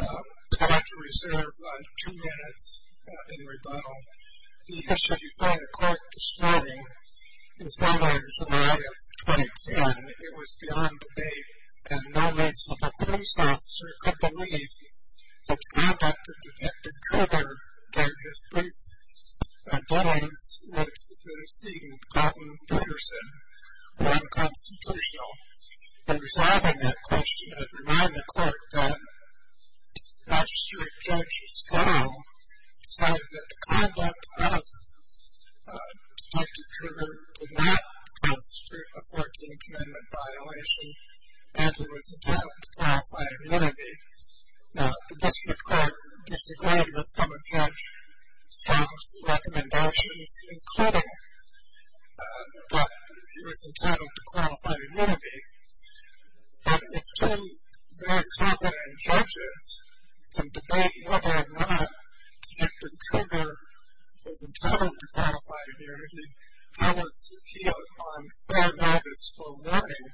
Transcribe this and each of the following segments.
Time to reserve two minutes in rebuttal. He issued before the court this morning, his letter in July of 2010. It was beyond debate, and no reasonable police officer could believe that the conduct of Detective Krueger during his brief getaways would have seen Colton Peterson run constitutional. In resolving that question, it reminded the court that Magistrate Judge Stoll said that the conduct of Detective Krueger did not constitute a 14th Amendment violation, and he was entitled to qualify immunity. Now, the district court disagreed with some of Judge Stoll's recommendations, including that he was entitled to qualify immunity. But with two very competent judges, some debate whether or not Detective Krueger was entitled to qualify immunity, that was healed on fair, noticeable warning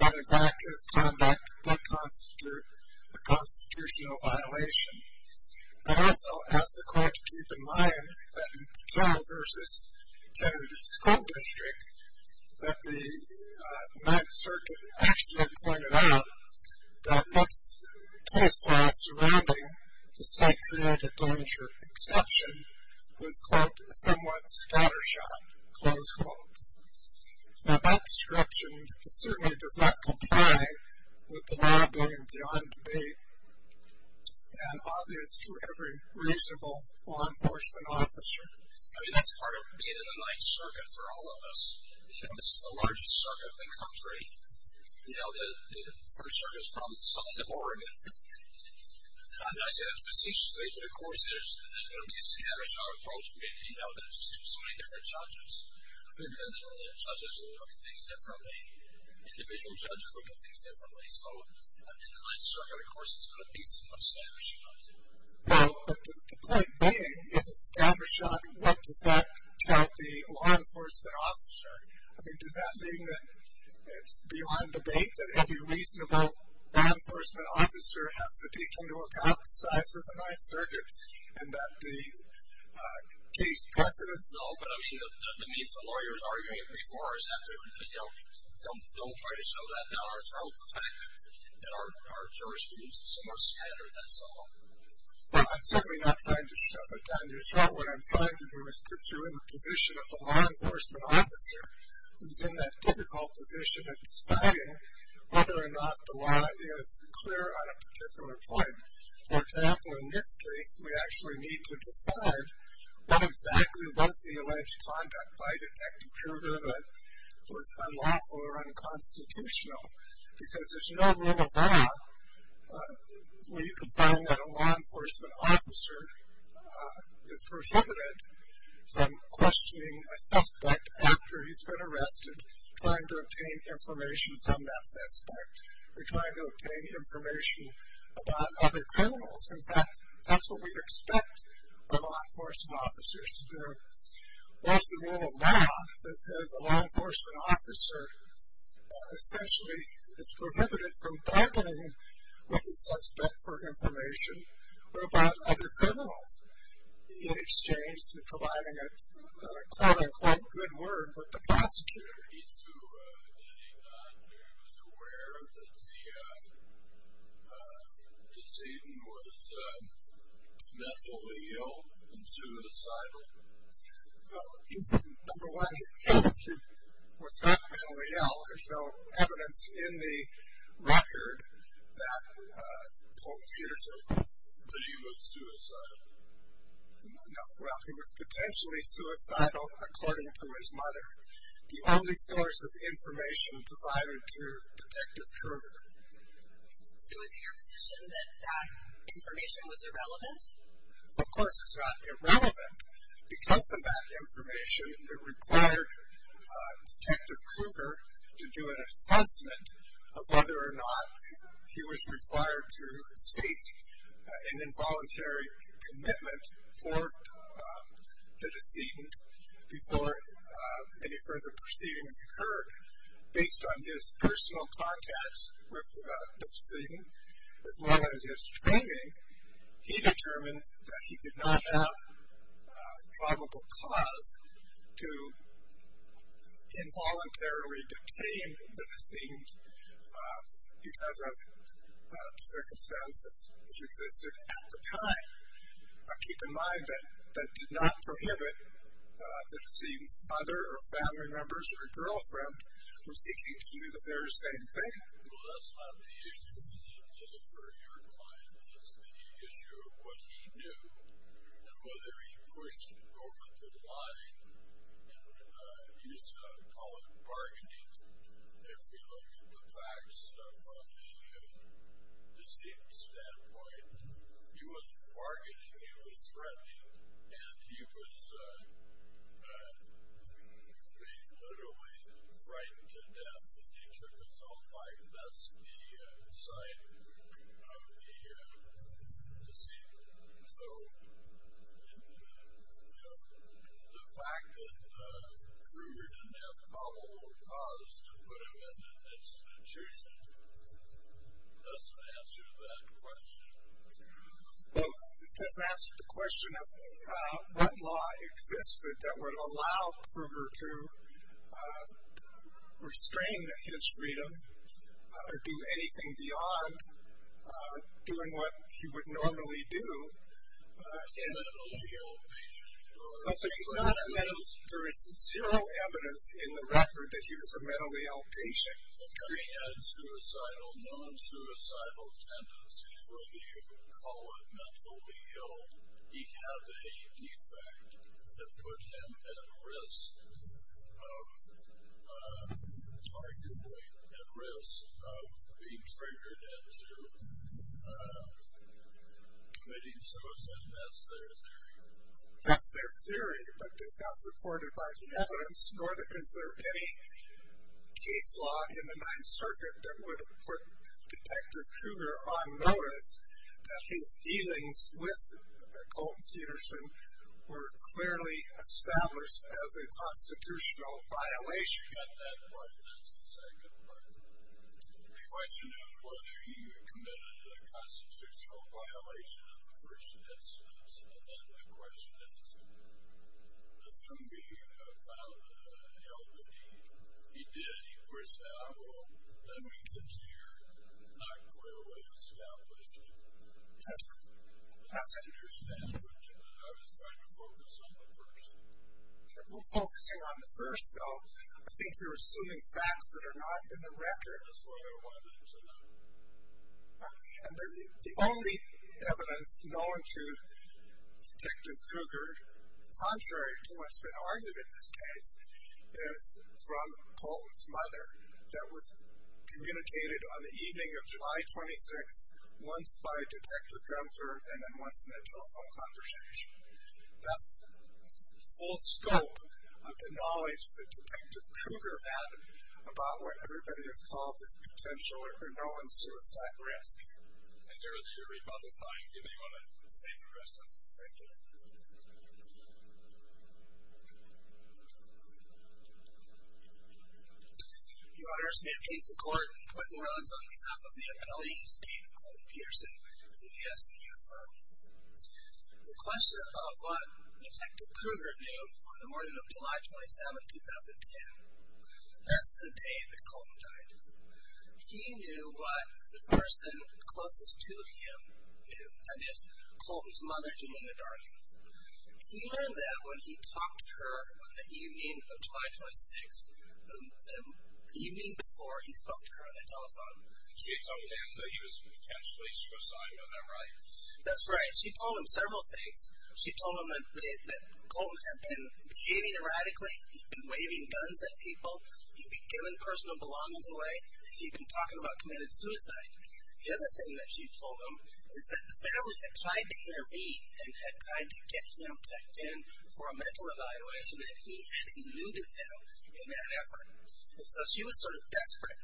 that his actions conducted did constitute a constitutional violation. But also, as the court keep in mind, that in the Koehl v. Kennedy School District, that the 9th Circuit actually pointed out that Koehl's law surrounding the state-created banisher exception was, quote, somewhat scattershot, close quote. Now, that description certainly does not comply with the law going beyond debate. And obvious to every reasonable law enforcement officer. I mean, that's part of being in the 9th Circuit for all of us. You know, this is the largest circuit in the country. You know, the first circuit is from Somerset, Oregon. And I say this facetiously, but of course, there's going to be a scattershot approach. You know, there's so many different judges. I mean, there's going to be judges who look at things differently. Individual judges look at things differently. So in the 9th Circuit, of course, there's going to be some scattershot. Well, but the point being, if it's scattershot, what does that tell the law enforcement officer? I mean, does that mean that it's beyond debate, that every reasonable law enforcement officer has to take into account the size of the 9th Circuit and that the case precedence? No, but I mean, that means the lawyers arguing it before us don't try to show that to our throat, the fact that our jurors can be so much scattered, that's all. Well, I'm certainly not trying to shove it down your throat. What I'm trying to do is put you in the position of a law enforcement officer who's in that difficult position of deciding whether or not the law is clear on a particular point. For example, in this case, we actually need to decide what exactly was the alleged conduct by Detective Kruger that was unlawful or unconstitutional. Because there's no rule of law where you can find that a law enforcement officer is prohibited from questioning a suspect after he's been arrested, trying to obtain information from that suspect or trying to obtain information about other criminals. In fact, that's what we expect law enforcement officers to do. What's the rule of law that says a law enforcement officer essentially is prohibited from bargaining with the suspect for information about other criminals in exchange for providing a quote-unquote good word with the prosecutor? He was aware that the decedent was mentally ill and suicidal. Well, number one, he was not mentally ill. There's no evidence in the record that Paul Peterson was suicidal. No. Well, he was potentially suicidal according to his mother, the only source of information provided to Detective Kruger. So is it your position that that information was irrelevant? Of course it's not irrelevant. Because of that information, it required Detective Kruger to do an assessment of whether or not he was required to seek an involuntary commitment to the decedent before any further proceedings occurred. Based on his personal contacts with the decedent, as well as his training, he determined that he did not have probable cause to involuntarily detain the decedent because of circumstances which existed at the time. Keep in mind that that did not prohibit the decedent's mother or family members or girlfriend from seeking to do the very same thing. Well, that's not the issue for your client. That's the issue of what he knew and whether he pushed over the line and used to call it bargaining. If we look at the facts from the decedent's standpoint, he was bargaining, he was threatening, and he was literally frightened to death that he took his own life. That's the side of the decedent. So the fact that Kruger didn't have probable cause to put him in an institution doesn't answer that question. Well, it doesn't answer the question of what law existed that would allow Kruger to restrain his freedom or do anything beyond doing what he would normally do. But there is zero evidence in the record that he was a mentally ill patient. If he had suicidal, non-suicidal tendencies, whether you call it mentally ill, he had a defect that put him at risk of being triggered into committing suicide. That's their theory. That's their theory, but it's not supported by the evidence nor to consider any case law in the Ninth Circuit that would put Detective Kruger on notice that his dealings with Colton Peterson were clearly established as a constitutional violation at that point. That's the second part. The question is whether he committed a constitutional violation in the first instance. And then the question is, assuming he found an element he did, he would say, well, let me continue. It's not clearly established. That's interesting. I was trying to focus on the first. Focusing on the first, though, I think you're assuming facts that are not in the record. That's what I wanted to know. And the only evidence known to Detective Kruger, contrary to what's been argued in this case, is from Colton's mother that was communicated on the evening of July 26th once by Detective Gunther and then once in a telephone conversation. That's full scope of the knowledge that Detective Kruger had about what everybody has called this potential or unknown suicide risk. I dare you to read by the time. Give anyone a safe address on this. Thank you. Your Honors, may it please the Court, Quentin Rhodes on behalf of the Appellee Estate of Colton Peterson, the VSDU firm. The question of what Detective Kruger knew on the morning of July 27, 2010. That's the day that Colton died. He knew what the person closest to him knew, that is, Colton's mother, Janina Darling. He learned that when he talked to her on the evening of July 26th, the evening before he spoke to her on the telephone. She had told him that he was potentially suicidal. Isn't that right? That's right. She told him several things. She told him that Colton had been behaving erratically. He'd been waving guns at people. He'd been giving personal belongings away. He'd been talking about committing suicide. The other thing that she told him is that the family had tried to intervene and had tried to get him checked in for a mental evaluation and he had eluded them in that effort. So she was sort of desperate.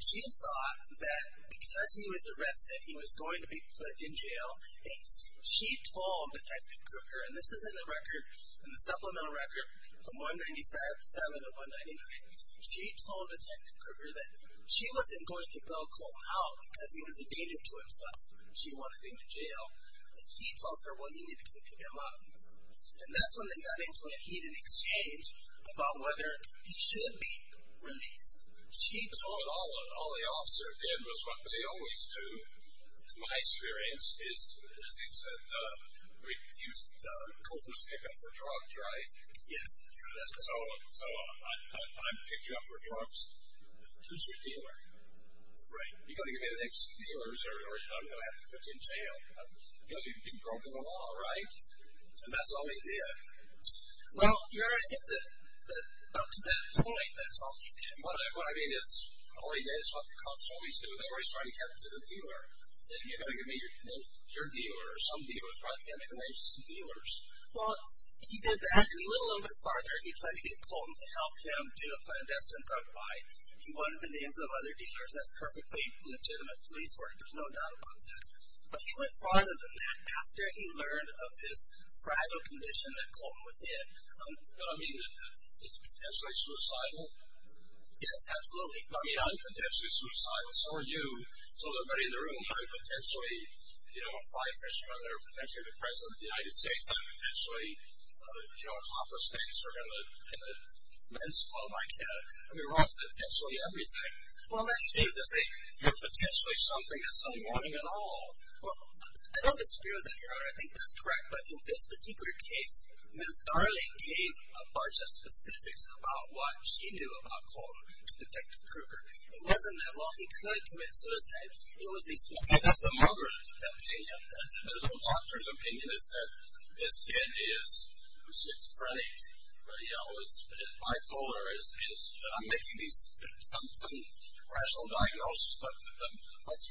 She thought that because he was arrested, he was going to be put in jail. She told Detective Kruger, and this is in the record, in the supplemental record from 197 to 199, she told Detective Kruger that she wasn't going to bail Colton out because he was a danger to himself. She wanted him in jail. He tells her, well, you need to keep him out. And that's when they got into a heated exchange about whether he should be released. But all the officers did was what they always do, in my experience, is, as he said, use Colton's pickup for drugs, right? Yes. So I picked you up for drugs. Who's your dealer? Right. You've got to give me the names of the dealers or I'm going to have to put you in jail because you've been broken the law, right? And that's all he did. Well, you're at the point that it's all he did. What I mean is all he did is what the cops always do. They're always trying to get to the dealer. You've got to give me your dealer or some dealer. It's probably got to go down to some dealers. Well, he did that and he went a little bit farther. He tried to get Colton to help him do a clandestine drug buy. He wanted the names of other dealers. That's perfectly legitimate police work. There's no doubt about that. But he went farther than that after he learned of this fragile condition that Colton was in. I mean, is it potentially suicidal? Yes, absolutely. I mean, not potentially suicidal. So are you. So is everybody in the room. I'm potentially a fly fisherman. I'm potentially the president of the United States. I'm potentially a cop of state serving in a men's club. I mean, Rob's potentially everything. You're potentially something that's unwanted at all. Well, I don't disagree with that, Your Honor. I think that's correct. But in this particular case, Ms. Darling gave a bunch of specifics about what she knew about Colton, Detective Kruger. It wasn't that what he could commit suicide. It was the specifics. I think that's a mother's opinion. That's a doctor's opinion. It's that this kid is frantic. But, you know, it's bipolar. I'm making some rational diagnosis. But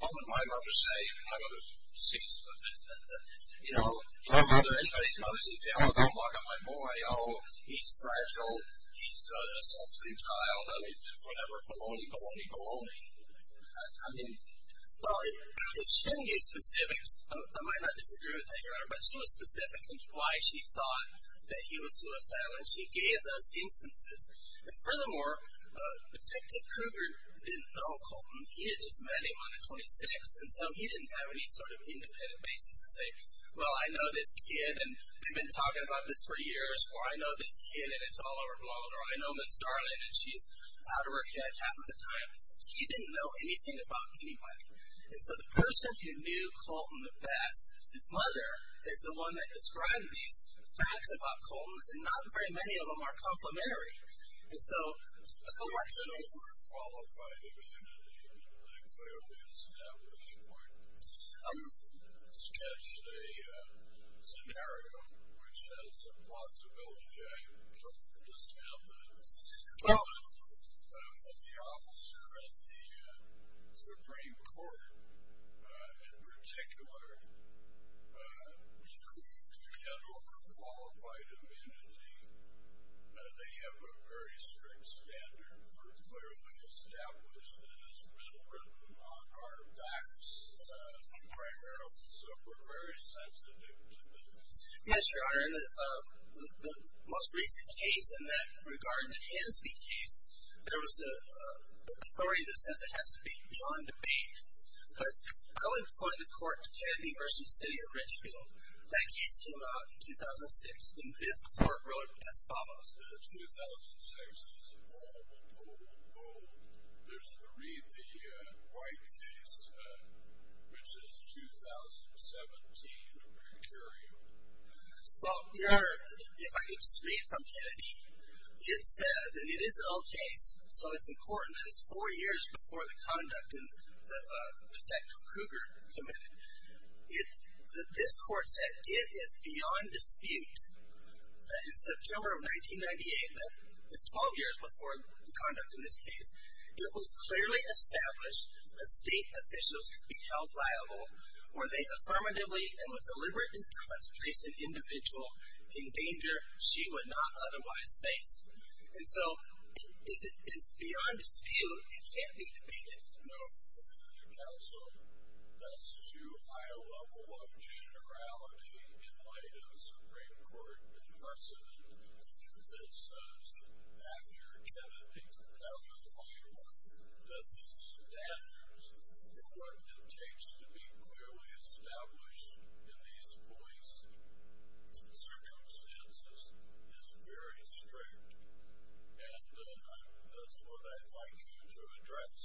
what would my mother say when I go to see somebody? You know, anybody's mother's going to say, Oh, don't look at my boy. Oh, he's fragile. He's an assaulting child. Whatever, baloney, baloney, baloney. I mean, well, if she didn't give specifics, I might not disagree with that, Your Honor, but she was specific in why she thought that he was suicidal, and she gave those instances. Furthermore, Detective Kruger didn't know Colton. He had just met him on the 26th, and so he didn't have any sort of independent basis to say, Well, I know this kid, and we've been talking about this for years, or I know this kid, and it's all overblown, or I know Ms. Darling, and she's out of her head half of the time. He didn't know anything about anybody. And so the person who knew Colton the best, his mother, is the one that described these facts about Colton, and not very many of them are complimentary. So what's the... Yes, Your Honor. The most recent case in that regard, the Hansby case, there was an authority that says it has to be beyond debate, but I would point the court to Kennedy v. City of Richfield. That case came out in 2006, and this court wrote as follows. Since 2006 is a long, long, long, long, there's the Reed v. White case, which is 2017 criteria. Well, Your Honor, if I could just read from Kennedy, it says, and it is an old case, so it's important that it's four years before the conduct in the Detective Kruger committed. This court said it is beyond dispute that in September of 1998, that is 12 years before the conduct in this case, it was clearly established that state officials could be held liable were they affirmatively and with deliberate interest placed an individual in danger she would not otherwise face. And so it is beyond dispute. It can't be debated. It's nice to know from the counsel that's too high a level of generality in light of the Supreme Court in person. It says after Kennedy v. White that the standards for what it takes to be clearly established in these police circumstances is very strict, and that's what I'd like you to address.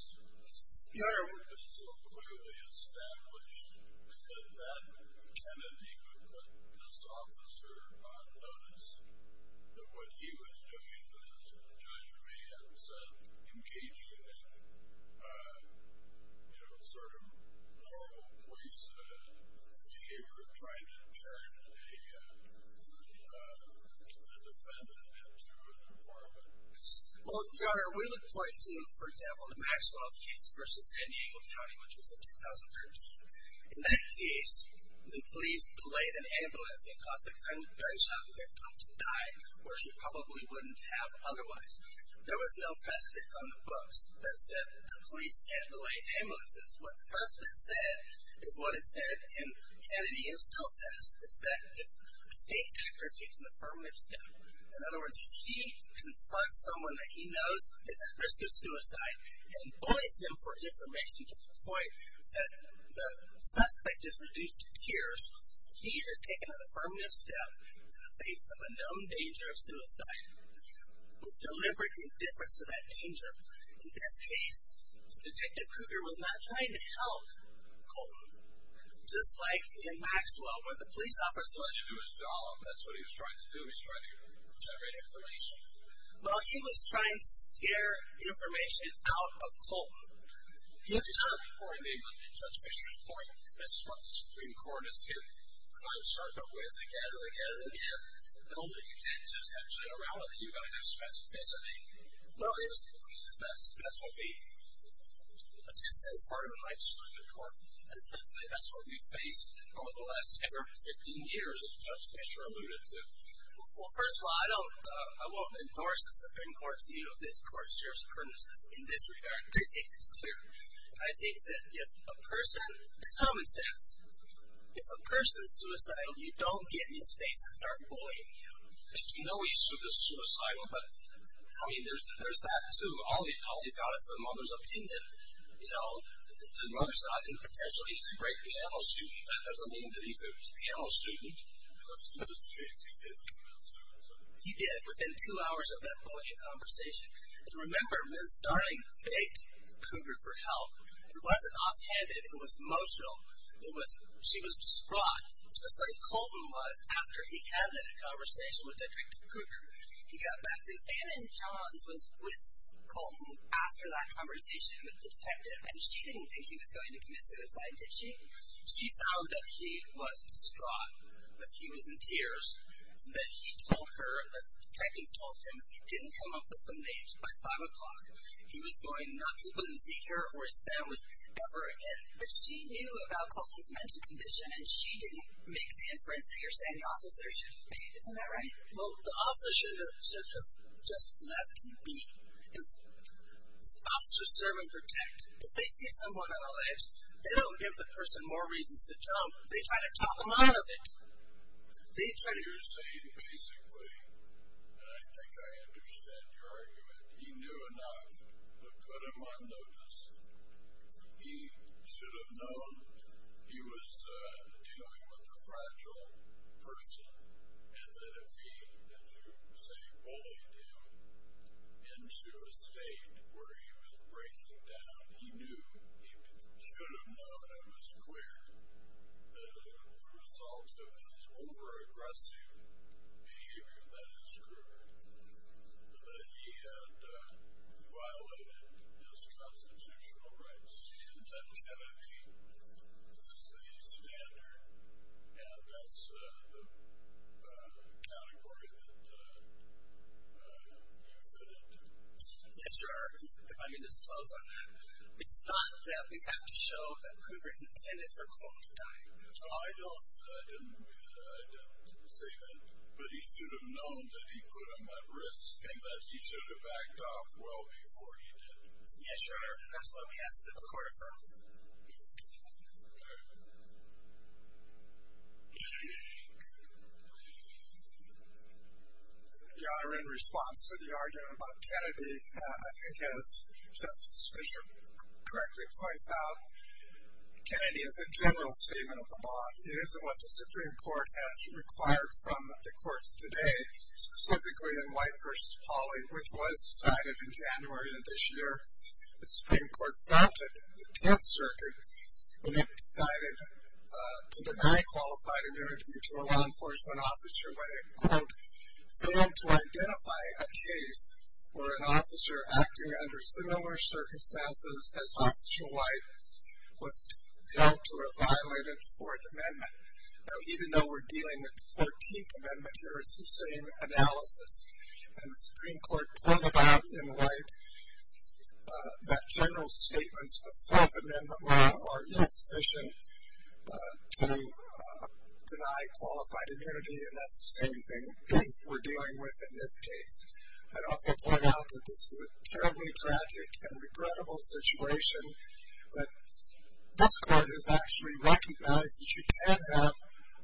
Your Honor. It was so clearly established that then Kennedy could put this officer on notice that what he was doing was judging me and said engaging in sort of normal police behavior, trying to turn a defendant into an informant. Your Honor, we look forward to, for example, the Maxwell case v. San Diego County, which was in 2013. In that case, the police delayed an ambulance and caused a gunshot wound victim to die where she probably wouldn't have otherwise. There was no precedent on the books that said the police can't delay ambulances. What the precedent said is what it said, and Kennedy still says it's that if a state actor takes an affirmative step, in other words, if he confronts someone that he knows is at risk of suicide and bullies them for information to the point that the suspect is reduced to tears, he has taken an affirmative step in the face of a known danger of suicide with deliberate indifference to that danger. In this case, Detective Cougar was not trying to help Colton, just like in Maxwell, where the police officer was. He was trying to do his job. That's what he was trying to do. He was trying to generate information. Well, he was trying to scare information out of Colton. Yes, Your Honor. Before he made the judge Fisher's point, this is what the Supreme Court is hitting the Crime Sergeant with again and again and again. The only thing you can't just have generality. You've got to have specificity. Well, yes. That's what the, just as part of my description of the court, let's say that's what we've faced over the last 10 or 15 years, as Judge Fisher alluded to. Well, first of all, I won't endorse the Supreme Court's view of this court's jurisprudence in this regard. I think it's clear. I think that if a person, it's common sense, if a person is suicidal, you don't get in his face and start bullying him. You know he's suicidal, but, I mean, there's that, too. All he's got is the mother's opinion. You know, his mother's not in the potential that he's a great piano student. That doesn't mean that he's a piano student. He did. Within two hours of that bullying conversation. And remember, Ms. Darling begged Cougar for help. It wasn't offhanded. It was emotional. She was distraught, just like Colton was after he had that conversation with Det. Cougar. He got back to him. Anne Johns was with Colton after that conversation with the detective. And she didn't think he was going to commit suicide, did she? She found that he was distraught, that he was in tears, that he told her, that the detective told him if he didn't come up with some names by 5 o'clock, he was going, he wouldn't see her or his family ever again. But she knew about Colton's mental condition, and she didn't make the inference that you're saying the officer should have made. Isn't that right? Well, the officer should have just left me. Officers serve and protect. If they see someone on a list, they don't give the person more reasons to jump. They try to talk them out of it. You're saying basically, and I think I understand your argument, he knew enough to put him on notice. He should have known. He was dealing with a fragile person, and that if he, let's say, bullied him into a state where he was breaking down, he knew, he should have known and it was clear that as a result of his over-aggressive behavior, that is true, that he had violated his constitutional rights. That was going to be the standard, and that's the category that you fit into. Yes, sir. If I may just close on that. It's not that we have to show that Hoover intended for Colton to die. I don't say that, but he should have known that he put him at risk and that he should have backed off well before he did. Yes, sir. That's what we asked the court to affirm. Your Honor, in response to the argument about Kennedy, I think as Justice Fischer correctly points out, Kennedy is a general statement of the law. It isn't what the Supreme Court has required from the courts today, specifically in White v. Pauli, which was decided in January of this year. The Supreme Court founded the 10th Circuit when it decided to deny qualified immunity to a law enforcement officer when it, quote, failed to identify a case where an officer acting under similar circumstances as Officer White was held to have violated the Fourth Amendment. Now, even though we're dealing with the 14th Amendment here, it's the same analysis. And the Supreme Court pointed out in White that general statements of the Fourth Amendment law are insufficient to deny qualified immunity, and that's the same thing we're dealing with in this case. I'd also point out that this is a terribly tragic and regrettable situation, but this court has actually recognized that you can have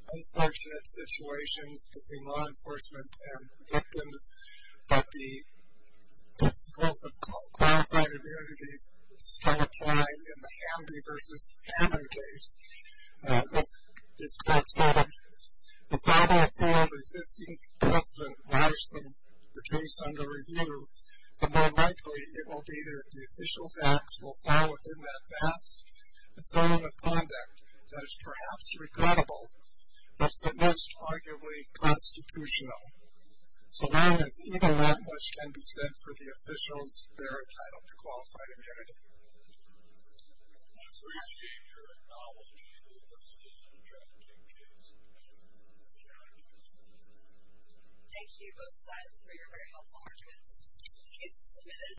unfortunate situations between law enforcement and victims, but the principles of qualified immunity still apply in the Hamby v. Hammond case. This court said that the further afield existing precedent lies from the case under review, the more likely it will be that the official facts will fall within that vast discernment of conduct that is perhaps regrettable, but is at best arguably constitutional. So that is even that much can be said for the officials they're entitled to qualified immunity. I appreciate your acknowledgement of this tragic case. Thank you. Thank you, both sides, for your very helpful arguments. Case is submitted.